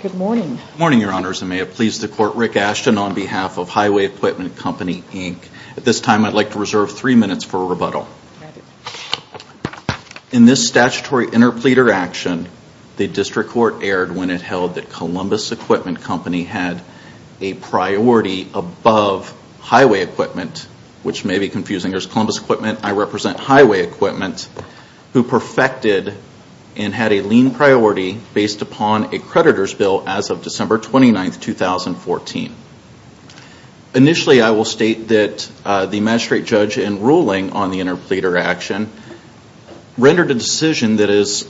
Good morning your honors and may it please the court Rick Ashton on behalf of Highway Equipment Company Inc. At this time I'd like to reserve three minutes for rebuttal. In this statutory interpleader action, the District Court erred when it held that Columbus Equipment Company had a priority above Highway Equipment, which may be confusing as Columbus Equipment, I represent Highway Equipment, who perfected and had a lean priority based upon a creditor's bill as of December 29, 2014. Initially I will state that the ruling on the interpleader action rendered a decision that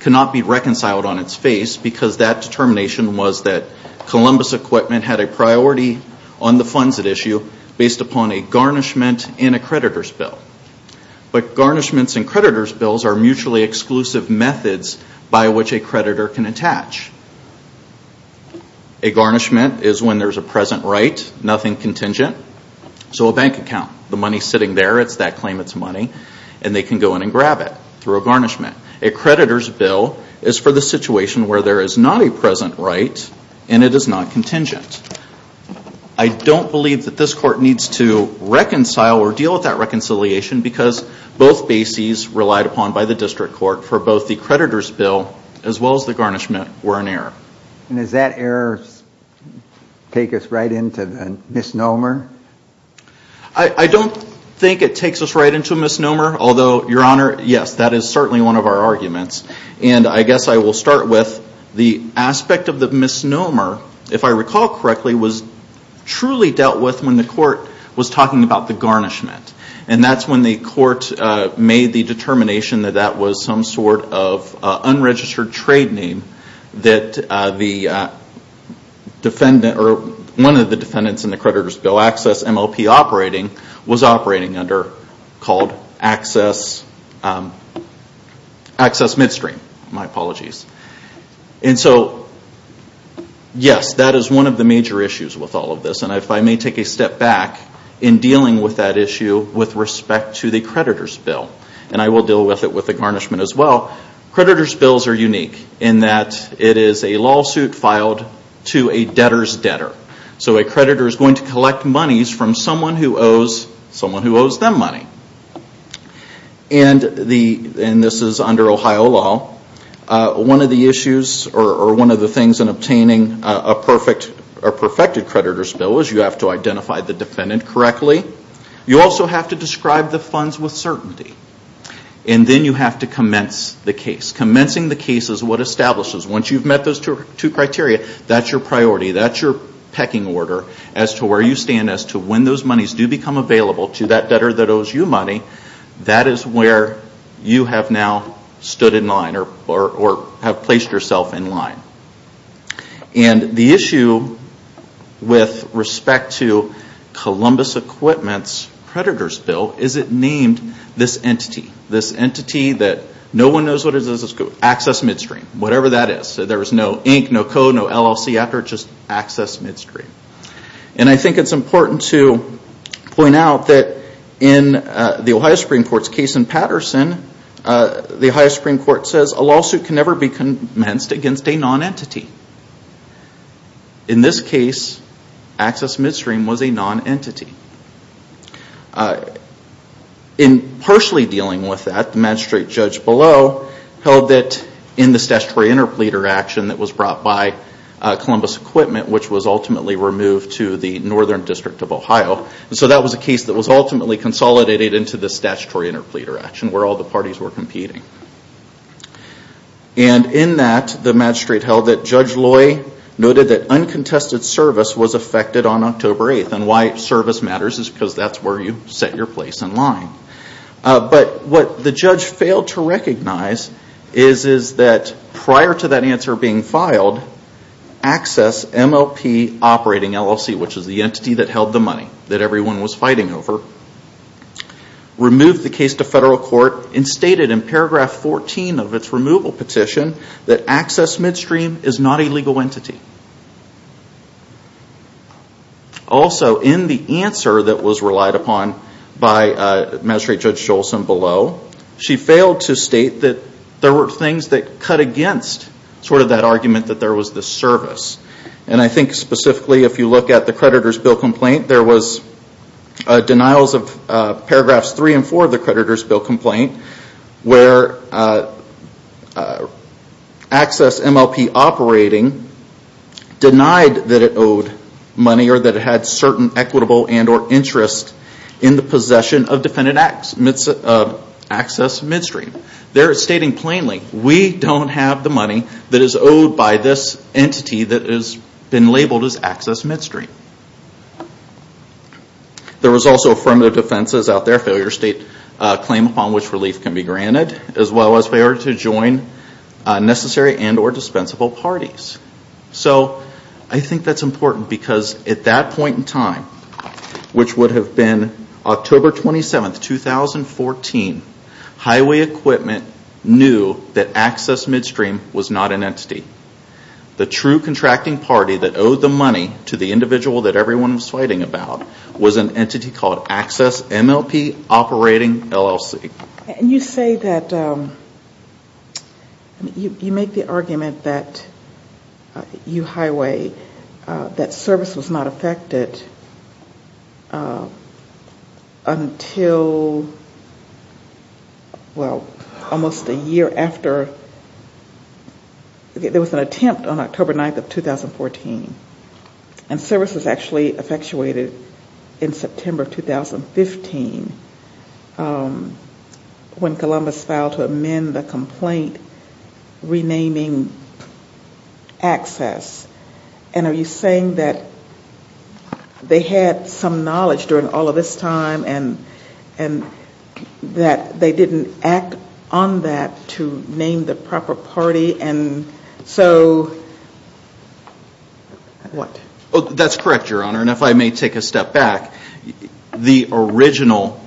cannot be reconciled on its face because that determination was that Columbus Equipment had a priority on the funds at issue based upon a garnishment and a creditor's bill. But garnishments and creditor's bills are mutually exclusive methods by which a creditor can attach. A garnishment is when there is a present right, nothing contingent, so a bank account. The money is sitting there, it's that claimant's money and they can go in and grab it through a garnishment. A creditor's bill is for the situation where there is not a present right and it is not contingent. I don't believe that this court needs to reconcile or deal with that reconciliation because both bases relied upon by the District Court for both the creditor's bill as well as the garnishment were an error. And does that error take us right into a misnomer? I don't think it takes us right into a misnomer, although, Your Honor, yes, that is certainly one of our arguments. And I guess I will start with the aspect of the misnomer, if I recall correctly, was truly dealt with when the court was talking about the garnishment. And that's when the court made the determination that that was some sort of unregistered trade name that one of the defendants in the creditor's bill, Access MLP Operating, was operating under called Access, Access Midstream, my apologies. And so, yes, that is one of the major issues with all of this. And if I may take a step back in dealing with that issue with respect to the creditor's bill, and I will deal with it with the garnishment as well, creditor's bills are unique in that it is a lawsuit filed to a debtor's debtor. So a creditor is going to collect monies from someone who owes them money. And this is under Ohio law. One of the issues or one of the things in obtaining a perfected creditor's bill is you have to commence with certainty. And then you have to commence the case. Commencing the case is what establishes, once you've met those two criteria, that's your priority, that's your pecking order as to where you stand as to when those monies do become available to that debtor that owes you money, that is where you have now stood in line or have placed yourself in line. And the issue with respect to Columbus Equipment's creditor's bill is it named this entity, this entity that no one knows what it is, access midstream, whatever that is. So there is no ink, no code, no LLC after it, just access midstream. And I think it's important to point out that in the Ohio Supreme Court's case in Patterson, the Ohio Supreme Court says a lawsuit can never be commenced against a non-entity. In this case, access midstream was a non-entity. In partially dealing with that, the magistrate judge below held that in the statutory interpleader action that was brought by Columbus Equipment, which was ultimately removed to the Northern District of Ohio, so that was a case that was ultimately consolidated into the statutory interpleader action where all the parties were competing. And in that, the magistrate held that Judge Loy noted that uncontested service was affected on October 8th and why service matters is because that's where you set your place in line. But what the judge failed to recognize is that prior to that answer being filed, access MLP operating LLC, which is the entity that held the money that everyone was fighting over, removed the case to federal court and stated in paragraph 14 of its removal petition that access midstream is not a legal entity. Also, in the answer that was relied upon by Magistrate Judge Jolson below, she failed to state that there were things that cut against sort of that argument that there was this service. And I think specifically if you look at the creditor's bill complaint, there was denials of paragraphs 3 and 4 of the creditor's bill complaint where access MLP operating denied that it owed money or that it had certain equitable and or interest in the possession of defendant access midstream. There it's stating plainly, we don't have the money that is owed by this entity that has been labeled as access midstream. There was also affirmative defenses out there, failure state claim upon which relief can be granted as well as failure to join necessary and or dispensable parties. So I think that's important because at that point in time, which would have been October 27th, 2014, highway equipment knew that access midstream was not an entity. The true contracting party that owed the money to the individual that everyone was fighting about was an entity called Access MLP Operating LLC. And you say that, you make the argument that U Highway, that service was not affected until well, almost a year after, there was an attempt on October 9th of 2014, to have access MLP operated in September of 2014. And service was actually effectuated in September of 2015, when Columbus filed to amend the complaint renaming access. And are you saying that they had some knowledge during all of this time and that they didn't act on that to name the entity? That's correct, Your Honor. And if I may take a step back, the original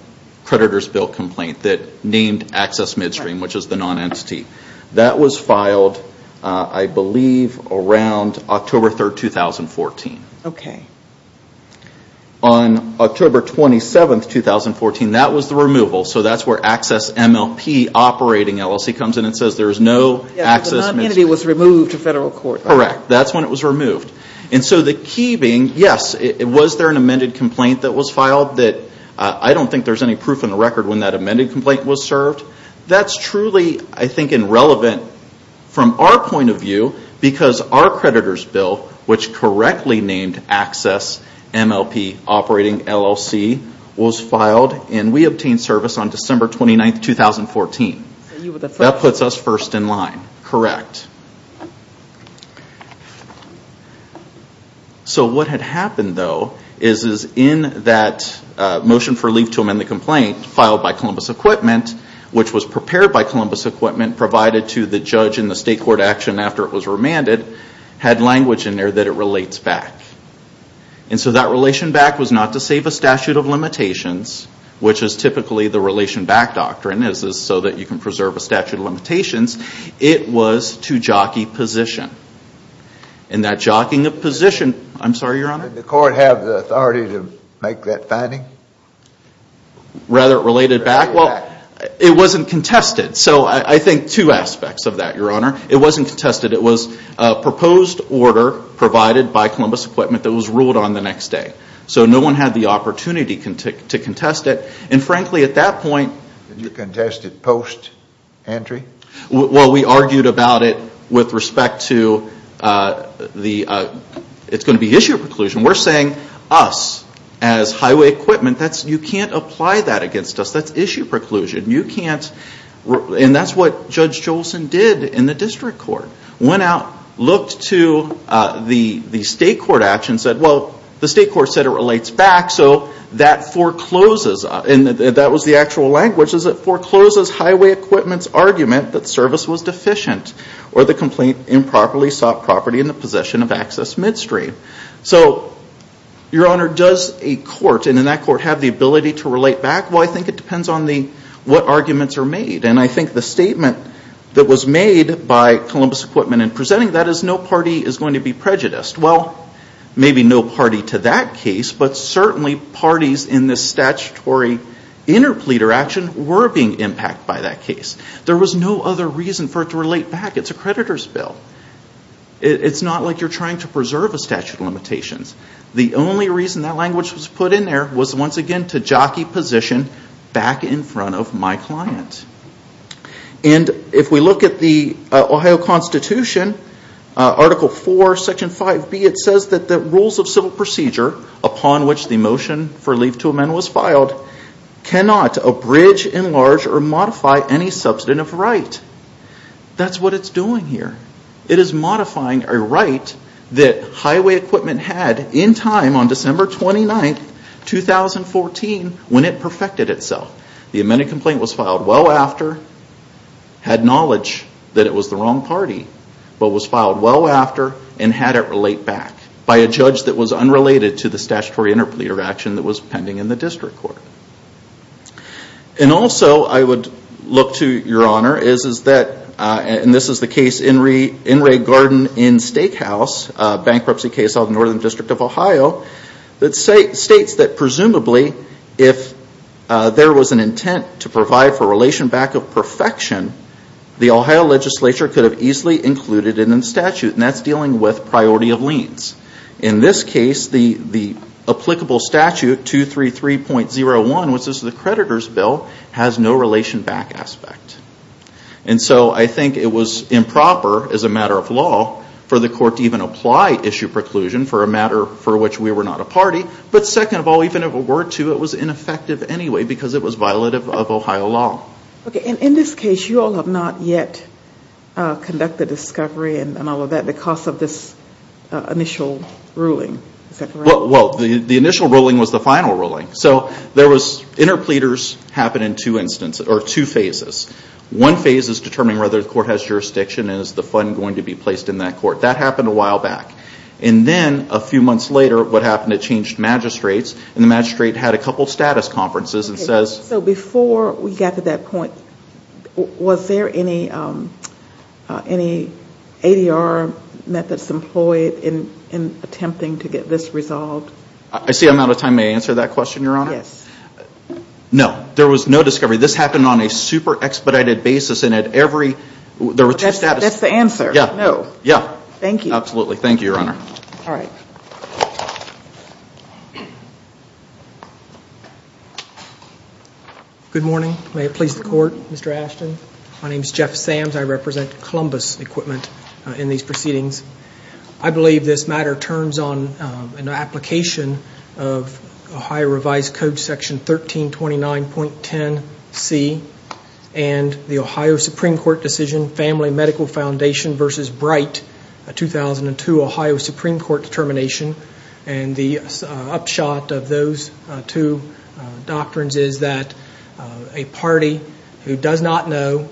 creditor's bill complaint that named access midstream, which is the non-entity, that was filed I believe around October 3rd, 2014. On October 27th, 2014, that was the removal. So that's where Access MLP Operating LLC comes in and says there is no access midstream. The non-entity was removed to federal court. That's correct. That's when it was removed. And so the key being, yes, was there an amended complaint that was filed that I don't think there's any proof in the record when that amended complaint was served. That's truly, I think, irrelevant from our point of view because our creditor's bill, which correctly named Access MLP Operating LLC, was filed and we obtained service on December 29th, 2014. That puts us first in line. Correct. So, what had happened, though, is in that motion for relief to amend the complaint filed by Columbus Equipment, which was prepared by Columbus Equipment, provided to the judge in the state court action after it was remanded, had language in there that it relates back. And so that relation back was not to save a statute of limitations, which is typically the relation back doctrine, so that you can preserve a statute of limitations. It was to jockey position. And that jockeying of position, I'm sorry, Your Honor? Did the court have the authority to make that finding? Rather it related back? Well, it wasn't contested. So I think two aspects of that, Your Honor. It wasn't contested. It was a proposed order provided by Columbus Equipment that was ruled on the next day. So no one had the opportunity to contest it. And frankly, at that point... Did you contest it post-entry? Well, we argued about it with respect to the... It's going to be issue preclusion. We're saying, us, as highway equipment, you can't apply that against us. That's issue preclusion. You can't... And that's what Judge Jolson did in the district court. Went out, looked to the state court action, said, well, the state court said it relates back, so that forecloses... And that was the actual language. It forecloses highway equipment's argument that service was deficient or the complaint improperly sought property in the possession of access midstream. So, Your Honor, does a court, and in that court, have the ability to relate back? Well, I think it depends on the... What arguments are made. And I think the statement that was made by Columbus Equipment in presenting that is no party is going to be prejudiced. Well, maybe no party to that case, but certainly parties in this statutory interpleader action were being impacted by that case. There was no other reason for it to relate back. It's a creditor's bill. It's not like you're trying to preserve a statute of limitations. The only reason that language was put in there was, once again, to jockey position back in front of my client. And if we look at the Ohio Constitution, Article 4, Section 5B, it says that the rules of civil procedure, upon which the motion for leave to amend was filed, cannot abridge, enlarge, or modify any substantive right. That's what it's doing here. It is modifying a right that highway equipment had in time on December 29, 2014 when it perfected itself. The amended complaint was filed well after, had knowledge that it was the wrong party, but was filed well after, and had it relate back by a judge that was unrelated to the statutory interpleader action that was pending in the district court. And also, I would look to your honor, is that, and this is the case, In re Garden in Stake House, a bankruptcy case of the Northern District of Ohio, that states that presumably if there was an intent to provide for relation back of perfection, the Ohio legislature could have easily included it in the statute. And that's dealing with priority of liens. In this case, the applicable statute, 233.01, which is the creditor's bill, has no relation back aspect. And so I think it was improper, as a matter of law, for the court to even apply issue preclusion for a matter for which we were not a party. But second of all, even if it were to, it was ineffective anyway, because it was violative of Ohio law. Okay. And in this case, you all have not yet conducted discovery and all of that because of this initial ruling. Is that correct? Well, the initial ruling was the final ruling. So there was, interpleaders happen in two instances, or two phases. One phase is determining whether the court has jurisdiction and is the fund going to be placed in that court. That happened a while back. And then, a few months later, what happened, it changed magistrates. And the magistrate had a couple of status conferences and says... So before we got to that point, was there any ADR methods employed in attempting to get this resolved? I see I'm out of time. May I answer that question, Your Honor? Yes. No. There was no discovery. This happened on a super expedited basis and at every... There were two status... That's the answer. Yeah. No. Yeah. Thank you. Absolutely. Thank you, Your Honor. All right. Good morning. May it please the court, Mr. Ashton. My name is Jeff Sams. I represent Columbus Equipment in these proceedings. I believe this matter turns on an application of Ohio revised code section 1329.10C and the Ohio Supreme Court decision, Family Medical Foundation versus Bright, a 2002 Ohio Supreme Court determination. And the upshot of those two doctrines is that a party who does not know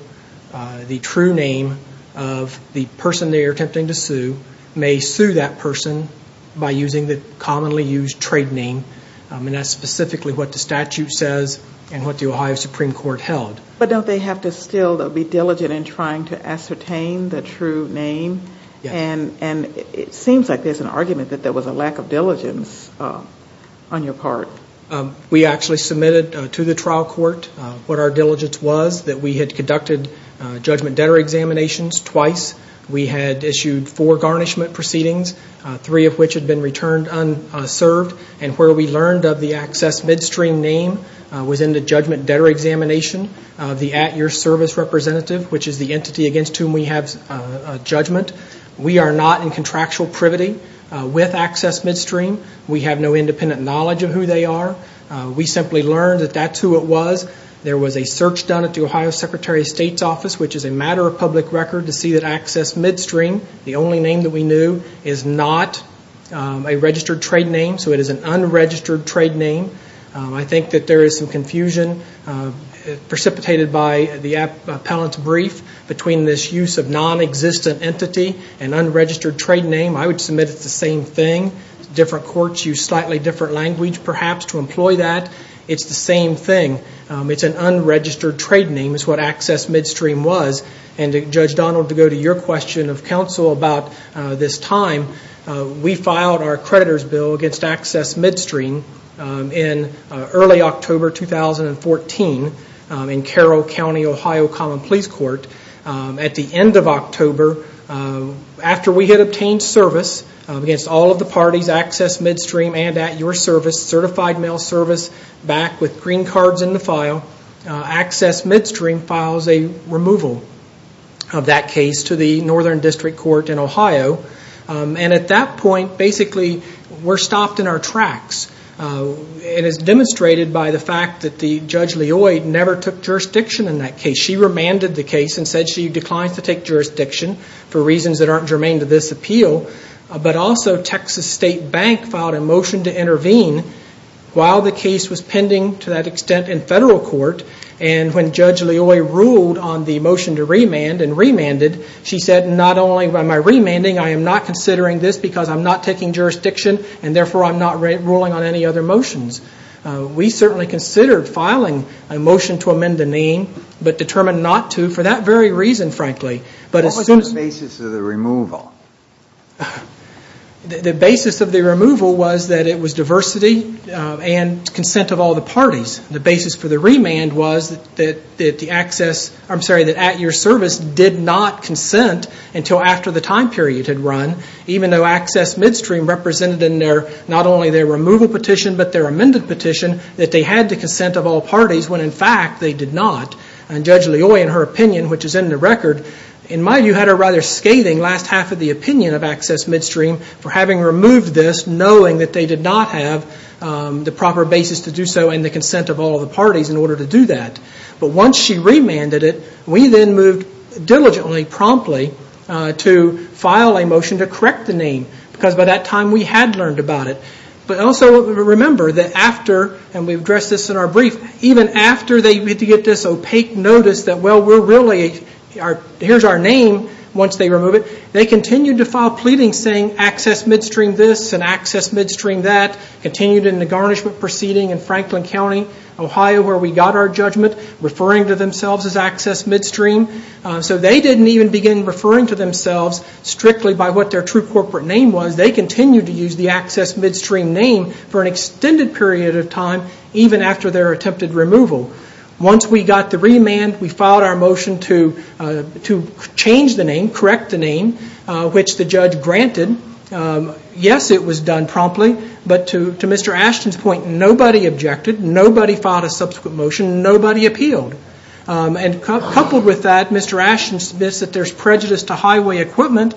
the true name of the person they are attempting to sue may sue that person by using the commonly used trade name. And that's specifically what the statute says and what the Ohio Supreme Court held. But don't they have to still be diligent in trying to ascertain the true name? Yes. And it seems like there's an argument that there was a lack of diligence on your part. We actually submitted to the trial court what our diligence was, that we had conducted judgment debtor examinations twice. We had issued four garnishment proceedings, three of which had been returned unserved. And where we learned of the access midstream name was in the judgment debtor examination of the at your service representative, which is the entity against whom we have judgment. We are not in contractual privity with access midstream. We have no independent knowledge of who they are. We simply learned that that's who it was. There was a search done at the Ohio Secretary of State's office, which is a matter of public record, to see that access midstream, the only name that we knew, is not a registered trade name. So it is an unregistered trade name. I think that there is some confusion precipitated by the appellant's brief between this use of non-existent entity and unregistered trade name. I would submit it's the same thing. Different courts use slightly different language perhaps to employ that. It's the same thing. It's an unregistered trade name is what access midstream was. And Judge Donald, to go to your question of counsel about this time, we filed our creditor's bill against access midstream in early October 2014 in Carroll County, Ohio Common Police Court. At the end of October, after we had obtained service against all of the parties, access midstream and at your service, certified mail service back with green cards in the file, access midstream files a removal of that case to the Northern District Court in Ohio. And at that point, basically, we're stopped in our tracks. It is demonstrated by the fact that the Judge Leoy never took jurisdiction in that case. She remanded the case and said she declined to take jurisdiction for reasons that aren't germane to this appeal. But also, Texas State Bank filed a motion to intervene while the case was pending to that extent in federal court. And when Judge Leoy ruled on the motion to remand and remanded, she said, not only am I remanding, I am not considering this because I'm not taking jurisdiction and therefore I'm not ruling on any other motions. We certainly considered filing a motion to amend the name, but determined not to for that very reason, frankly. But as soon as... What was the basis of the removal? The basis of the removal was that it was diversity and consent of all the parties. The basis for the remand was that the access... I'm sorry, that at your service did not consent until after the time period had run, even though Access Midstream represented in their, not only their removal petition, but their amended petition, that they had the consent of all parties, when in fact, they did not. And Judge Leoy, in her opinion, which is in the record, in my view, had a rather scathing last half of the opinion of Access Midstream for having removed this, knowing that they did not have the proper basis to do so and the consent of all the parties in order to do that. But once she remanded it, we then moved diligently, promptly, to file a motion to correct the name, because by that time we had learned about it. But also remember that after, and we've addressed this in our brief, even after they get this opaque notice that, well, we're really, here's our name, once they remove it, they continued to file pleadings saying Access Midstream this and Access Midstream that, continued in the garnishment proceeding in Franklin County, Ohio, where we got our judgment, referring to themselves as Access Midstream. So they didn't even begin referring to themselves strictly by what their true corporate name was. They continued to use the Access Midstream name for an extended period of time, even after their attempted removal. Once we got the remand, we filed our motion to change the name, correct the name, which the judge granted. Yes, it was done promptly, but to Mr. Ashton's point, nobody objected. Nobody filed a subsequent motion. Nobody appealed. And coupled with that, Mr. Ashton admits that there's prejudice to highway equipment.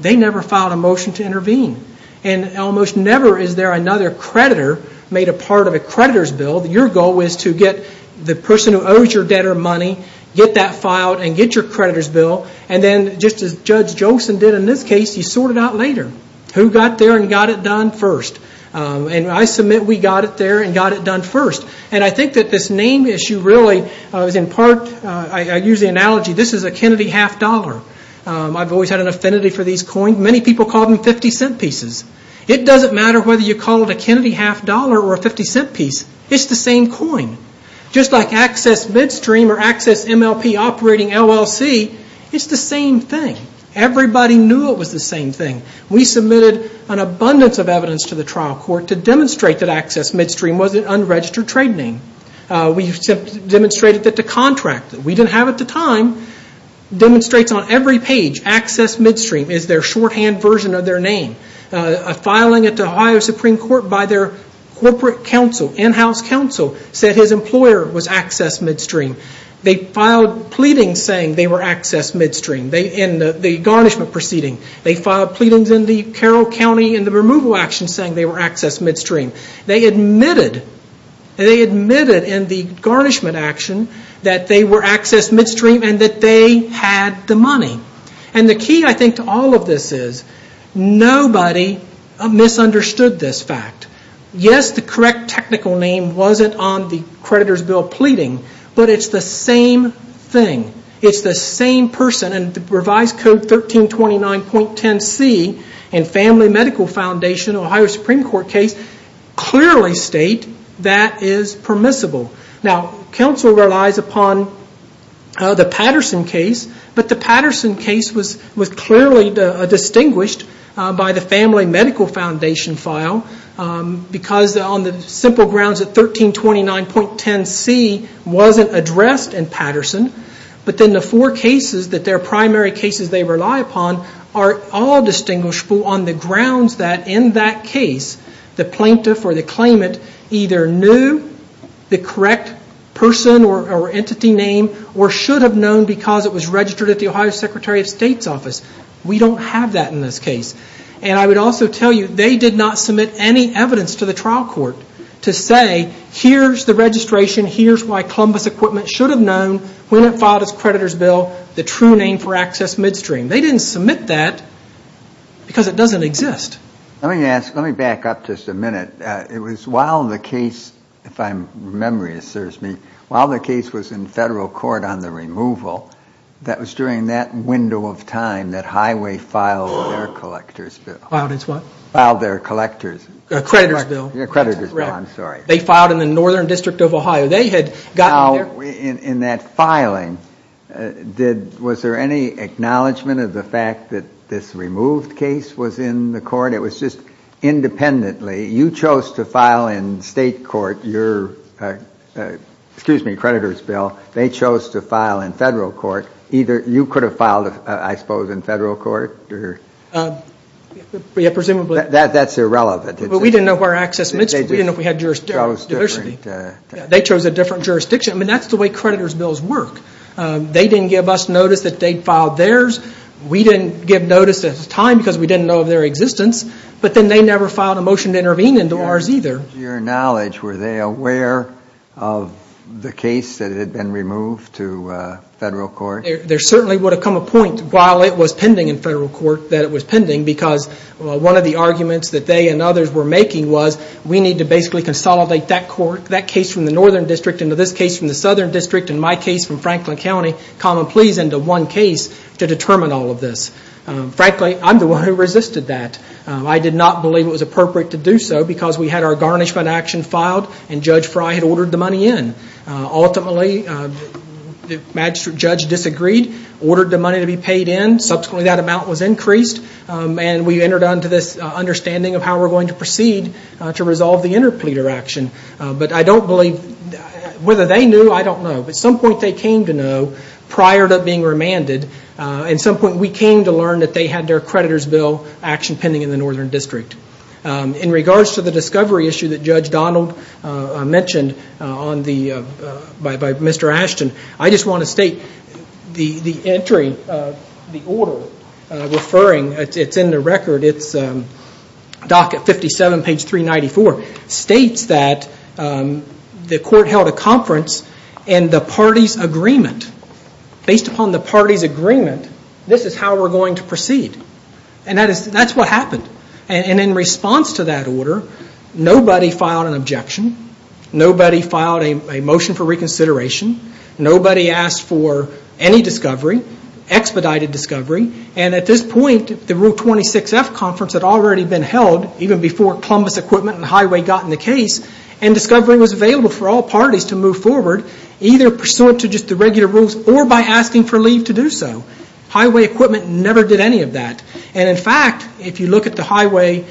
They never filed a motion to intervene. And almost never is there another creditor made a part of a creditor's bill. Your goal is to get the person who owes your debtor money, get that filed, and get your creditor's bill. And then, just as Judge Jolson did in this case, he sorted it out later. Who got there and got it done first? And I submit we got it there and got it done first. And I think that this name issue really is, in part, I use the analogy, this is a Kennedy half dollar. I've always had an affinity for these coins. Many people call them 50 cent pieces. It doesn't matter whether you call it a Kennedy half dollar or a 50 cent piece. It's the same coin. Just like Access Midstream or Access MLP operating LLC, it's the same thing. Everybody knew it was the same thing. We submitted an abundance of evidence to the trial court to demonstrate that Access Midstream was an unregistered trade name. We demonstrated that the contract that we didn't have at the time demonstrates on every page Access Midstream is their shorthand version of their name. Filing it to Ohio Supreme Court by their corporate counsel, in-house counsel, said his employer was Access Midstream. They filed pleadings saying they were Access Midstream in the garnishment proceeding. They filed pleadings in the Carroll County in the removal action saying they were Access Midstream. They admitted in the garnishment action that they were Access Midstream and that they had the money. The key, I think, to all of this is nobody misunderstood this fact. Yes, the correct technical name wasn't on the creditor's bill pleading, but it's the same thing. It's the same person. Revised Code 1329.10c in Family Medical Foundation Ohio Supreme Court case clearly state that is permissible. Now, counsel relies upon the Patterson case, but the Patterson case was clearly distinguished by the Family Medical Foundation file because on the simple grounds that 1329.10c wasn't addressed in Patterson. But then the four cases that their primary cases they rely upon are all distinguishable on the grounds that in that case the plaintiff or the claimant either knew the correct person or entity name or should have known because it was registered at the Ohio Secretary of State's office. We don't have that in this case. And I would also tell you they did not submit any evidence to the trial court to say here's the registration, here's why Columbus Equipment should have known when it filed its creditor's bill, the true name for Access Midstream. They didn't submit that because it doesn't exist. Let me ask, let me back up just a minute. It was while the case, if I'm, memory serves me, while the case was in federal court on the removal, that was during that window of time that Highway filed their collector's bill. Filed its what? Filed their collector's. Creditor's bill. Creditor's bill, I'm sorry. They filed in the Northern District of Ohio. They had gotten their Now, in that filing, did, was there any acknowledgment of the fact that this removed case was in the court? It was just independently. You chose to file in state court your, excuse me, creditor's bill. They chose to file in federal court. Either, you could have filed, I suppose, in federal court or? Yeah, presumably. That's irrelevant. We didn't know if our Access Midstream, we didn't know if we had jurisdiction. They chose a different jurisdiction. I mean, that's the way creditor's bills work. They didn't give us notice that they'd filed theirs. We didn't give notice at the time because we didn't know of their existence, but then they never filed a motion to intervene into ours either. To your knowledge, were they aware of the case that had been removed to federal court? There certainly would have come a point while it was pending in federal court that it was pending because one of the arguments that they and others were making was we need to basically consolidate that court, that case from the Northern District into this case from the Southern District and my case from Franklin County, common pleas, into one case to determine all of this. Frankly, I'm the one who resisted that. I did not believe it was appropriate to do so because we had our garnishment action filed and Judge Frye had ordered the money in. Ultimately, the magistrate judge disagreed, ordered the money to be paid in. Subsequently, that amount was increased and we entered onto this understanding of how we're going to proceed to resolve the interpleader action. But I don't believe, whether they knew, I don't know, but at some point they came to and at some point we came to learn that they had their creditor's bill action pending in the Northern District. In regards to the discovery issue that Judge Donald mentioned by Mr. Ashton, I just want to state the entry, the order referring, it's in the record, it's docket 57, page 394, states that the court held a conference and the parties' agreement, based upon the parties' agreement, this is how we're going to proceed. That's what happened. In response to that order, nobody filed an objection. Nobody filed a motion for reconsideration. Nobody asked for any discovery, expedited discovery. At this point, the Rule 26F conference had already been held even before Columbus Equipment and Highway got in the case and discovery was available for all parties to move forward, either pursuant to just the regular rules or by asking for leave to do so. Highway Equipment never did any of that. In fact, if you look at the highway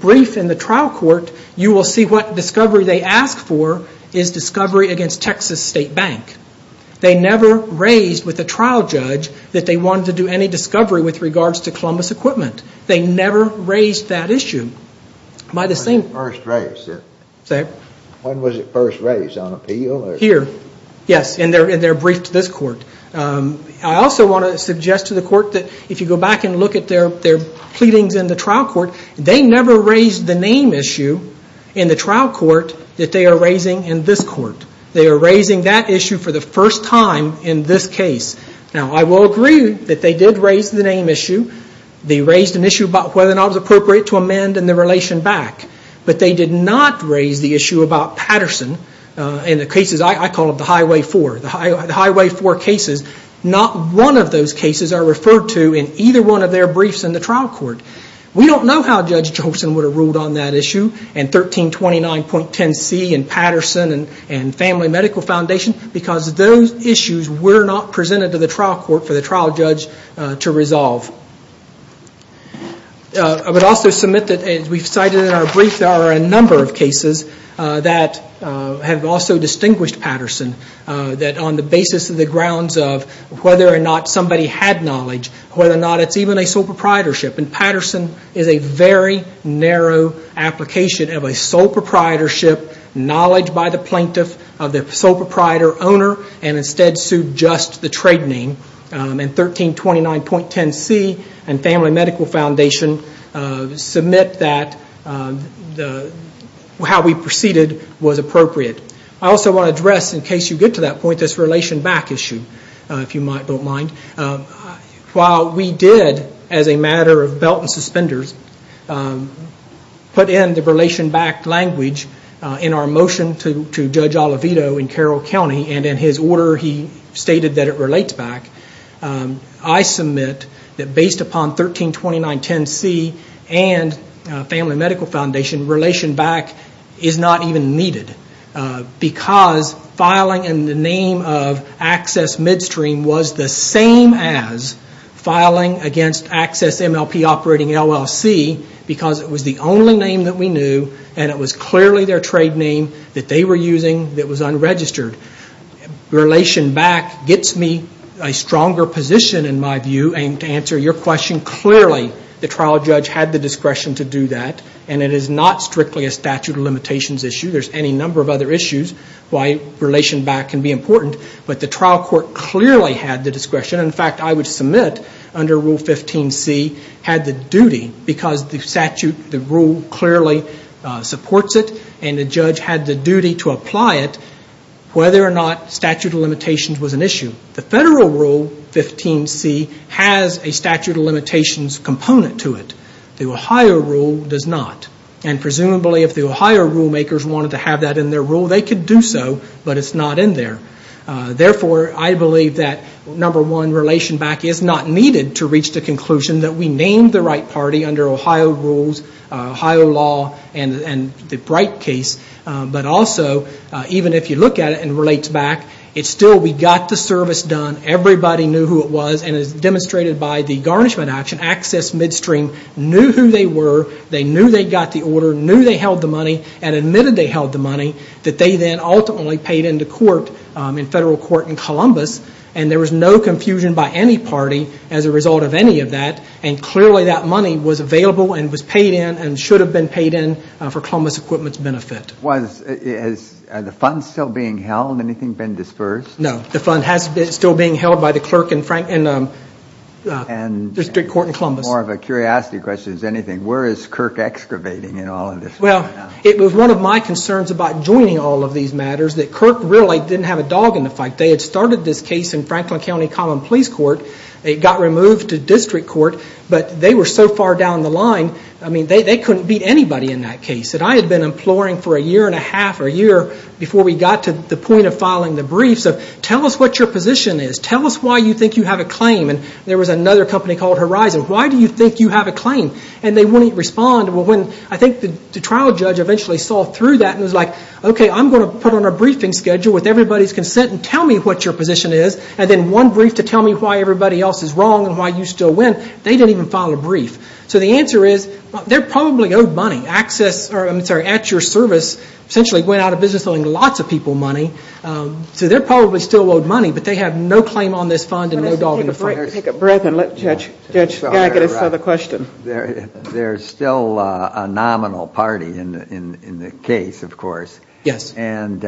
brief in the trial court, you will see what discovery they asked for is discovery against Texas State Bank. They never raised with the trial judge that they wanted to do any discovery with regards to Columbus Equipment. They never raised that issue by the same... When was it first raised? On appeal? Here, yes, in their brief to this court. I also want to suggest to the court that if you go back and look at their pleadings in the trial court, they never raised the name issue in the trial court that they are raising in this court. They are raising that issue for the first time in this case. I will agree that they did raise the name issue. They raised an issue about whether or not it was appropriate to amend the relation back, but they did not raise the issue about Patterson in the cases I call Highway 4. Highway 4 cases, not one of those cases are referred to in either one of their briefs in the trial court. We don't know how Judge Johnson would have ruled on that issue and 1329.10C and Patterson and Family Medical Foundation because those issues were not presented to the trial court for the trial judge to resolve. I would also submit that as we've cited in our brief, there are a number of cases that have also distinguished Patterson that on the basis of the grounds of whether or not somebody had knowledge, whether or not it's even a sole proprietorship. Patterson is a very narrow application of a sole proprietorship, knowledge by the plaintiff of the sole proprietor owner and instead sued just the trade name. 1329.10C and Family Medical Foundation submit that how we proceeded was appropriate. I also want to address, in case you get to that point, this relation back issue, if you have belt and suspenders, put in the relation back language in our motion to Judge Oliveto in Carroll County and in his order he stated that it relates back. I submit that based upon 1329.10C and Family Medical Foundation, relation back is not even needed because filing in the name of Access Midstream was the same as filing against Access MLP Operating LLC because it was the only name that we knew and it was clearly their trade name that they were using that was unregistered. Relation back gets me a stronger position in my view and to answer your question, clearly the trial judge had the discretion to do that and it is not strictly a statute of limitations issue. There's any number of other issues why relation back can be important but the trial court clearly had the discretion. In fact, I would submit under Rule 15C had the duty because the rule clearly supports it and the judge had the duty to apply it whether or not statute of limitations was an issue. The Federal Rule 15C has a statute of limitations component to it. The Ohio Rule does not and presumably if the Ohio rule makers wanted to have that in their rule, they could do so but it's not in there. Therefore, I believe that number one, relation back is not needed to reach the conclusion that we named the right party under Ohio rules, Ohio law and the Bright case but also even if you look at it and relates back, it's still we got the service done. Everybody knew who it was and as demonstrated by the garnishment action, Access Midstream knew who they were, they knew they got the order, knew they held the money and admitted they held the money that they then ultimately paid into court in federal court in Columbus and there was no confusion by any party as a result of any of that and clearly that money was available and was paid in and should have been paid in for Columbus Equipment's benefit. Was the funds still being held, anything been dispersed? No, the fund has been still being held by the clerk in the district court in Columbus. More of a curiosity question than anything, where is Kirk excavating in all of this? Well, it was one of my concerns about joining all of these matters that Kirk really didn't have a dog in the fight. They had started this case in Franklin County Common Police Court, it got removed to district court but they were so far down the line, I mean, they couldn't beat anybody in that case that I had been imploring for a year and a half or a year before we got to the point of filing the briefs of tell us what your position is, tell us why you think you have a claim and there was another company called Horizon, why do you think you have a claim? And they wouldn't respond. I think the trial judge eventually saw through that and was like, okay, I'm going to put on a briefing schedule with everybody's consent and tell me what your position is and then one brief to tell me why everybody else is wrong and why you still win. They didn't even file a brief. So the answer is, they're probably owed money. Access, I'm sorry, at your service essentially went out of business owing lots of people money. So they're probably still owed money but they have no claim on this fund and no dog in the fight. Take a breath and let Judge Skagit answer the question. There's still a nominal party in the case, of course, and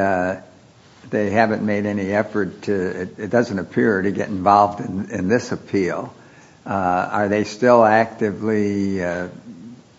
they haven't made any effort to, it doesn't appear, to get involved in this appeal. Are they still actively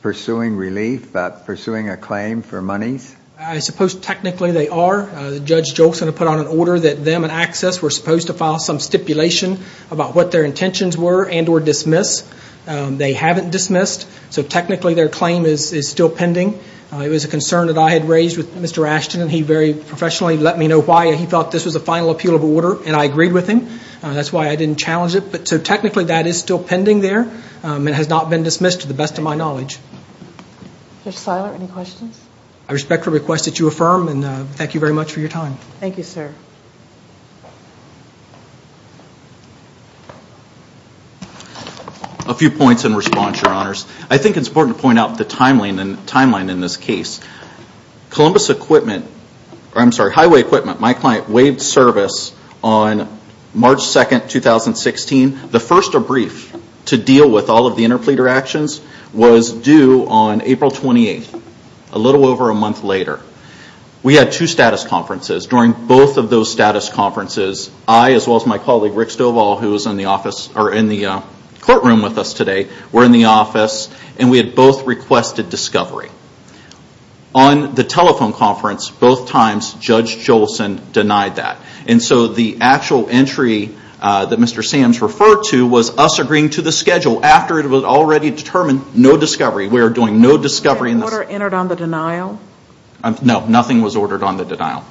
pursuing relief, pursuing a claim for monies? I suppose technically they are. Judge Jolson put out an order that them and Access were supposed to file some stipulation about what their intentions were and or dismiss. They haven't dismissed. So technically their claim is still pending. It was a concern that I had raised with Mr. Ashton and he very professionally let me know why he thought this was a final appeal of order and I agreed with him. That's why I didn't challenge it. So technically that is still pending there and has not been dismissed to the best of my knowledge. Judge Seiler, any questions? I respectfully request that you affirm and thank you very much for your time. Thank you, sir. A few points in response, Your Honors. I think it's important to point out the timeline in this case. Columbus Equipment, I'm sorry, Highway Equipment, my client waived service on March 2, 2016. The first brief to deal with all of the interpleader actions was due on April 28, a little over a month later. We had two status conferences. During both of those status conferences, I as well as my colleague Rick Stovall, who is in the office or in the courtroom with us today, were in the office and we had both requested discovery. On the telephone conference, both times Judge Jolson denied that. And so the actual entry that Mr. Sam's referred to was us agreeing to the schedule after it was already determined no discovery. We are doing no discovery in this. Was an order entered on the denial? No, nothing was ordered on the denial.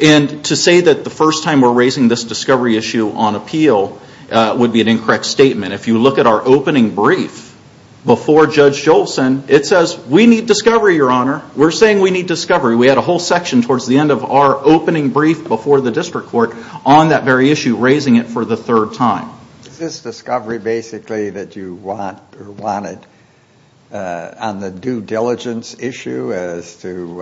And to say that the first time we're raising this discovery issue on appeal would be an incorrect statement. If you look at our opening brief before Judge Jolson, it says we need discovery, Your Honor. We're saying we need discovery. We had a whole section towards the end of our opening brief before the district court on that very issue, raising it for the third time. Is this discovery basically that you wanted on the due diligence issue as to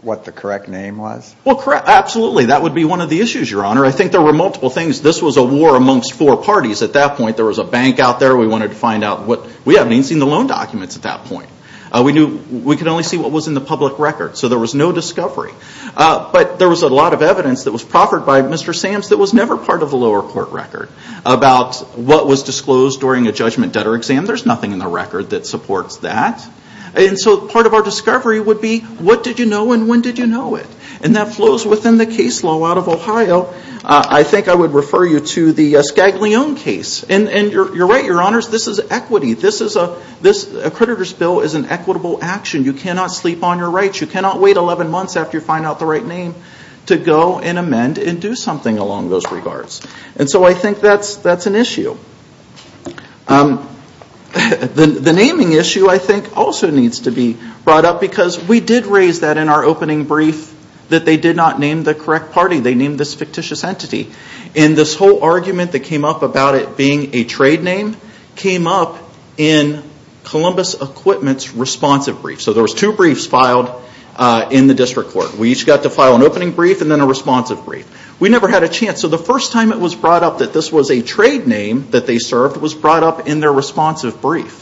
what the correct name was? Absolutely. That would be one of the issues, Your Honor. I think there were multiple things. This was a war amongst four parties at that point. There was a bank out there. We wanted to find out what... We haven't even seen the loan documents at that point. We could only see what was in the public record. So there was no discovery. But there was a lot of evidence that was proffered by Mr. Sams that was never part of the lower court record about what was disclosed during a judgment debtor exam. There's nothing in the record that supports that. And so part of our discovery would be what did you know and when did you know it? And that flows within the case law out of Ohio. I think I would refer you to the Scaglione case. And you're right, Your Honors. This is equity. This is a... A creditor's bill is an equitable action. You cannot sleep on your rights. You cannot wait 11 months after you find out the right name to go and amend and do something along those regards. And so I think that's an issue. The naming issue, I think, also needs to be brought up because we did raise that in our opening brief that they did not name the correct party. They named this fictitious entity. And this whole argument that came up about it being a trade name came up in Columbus Equipment's responsive brief. So there was two briefs in the district court. We each got to file an opening brief and then a responsive brief. We never had a chance. So the first time it was brought up that this was a trade name that they served was brought up in their responsive brief.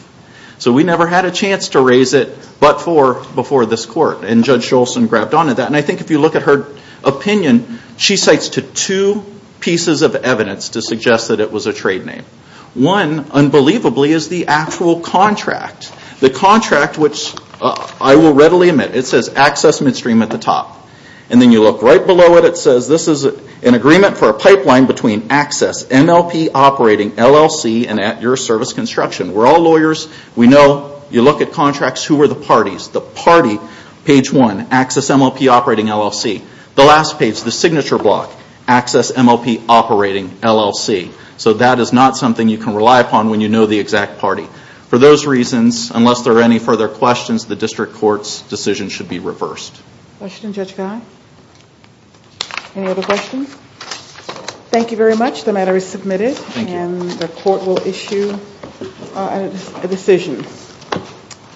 So we never had a chance to raise it but for before this court. And Judge Scholz grabbed onto that. And I think if you look at her opinion, she cites to two pieces of evidence to suggest that it was a trade name. One, unbelievably, is the actual contract. The contract, which I will readily admit, it says Access Midstream at the top. And then you look right below it, it says this is an agreement for a pipeline between Access MLP Operating LLC and at your service construction. We're all lawyers. We know. You look at contracts, who are the parties? The party, page one, Access MLP Operating LLC. The last page, the signature block, Access MLP Operating LLC. So that is not something you can rely upon when you know the exact party. For those reasons, unless there are any further questions, the district court's decision should be reversed. Any other questions? Thank you very much. The matter is submitted.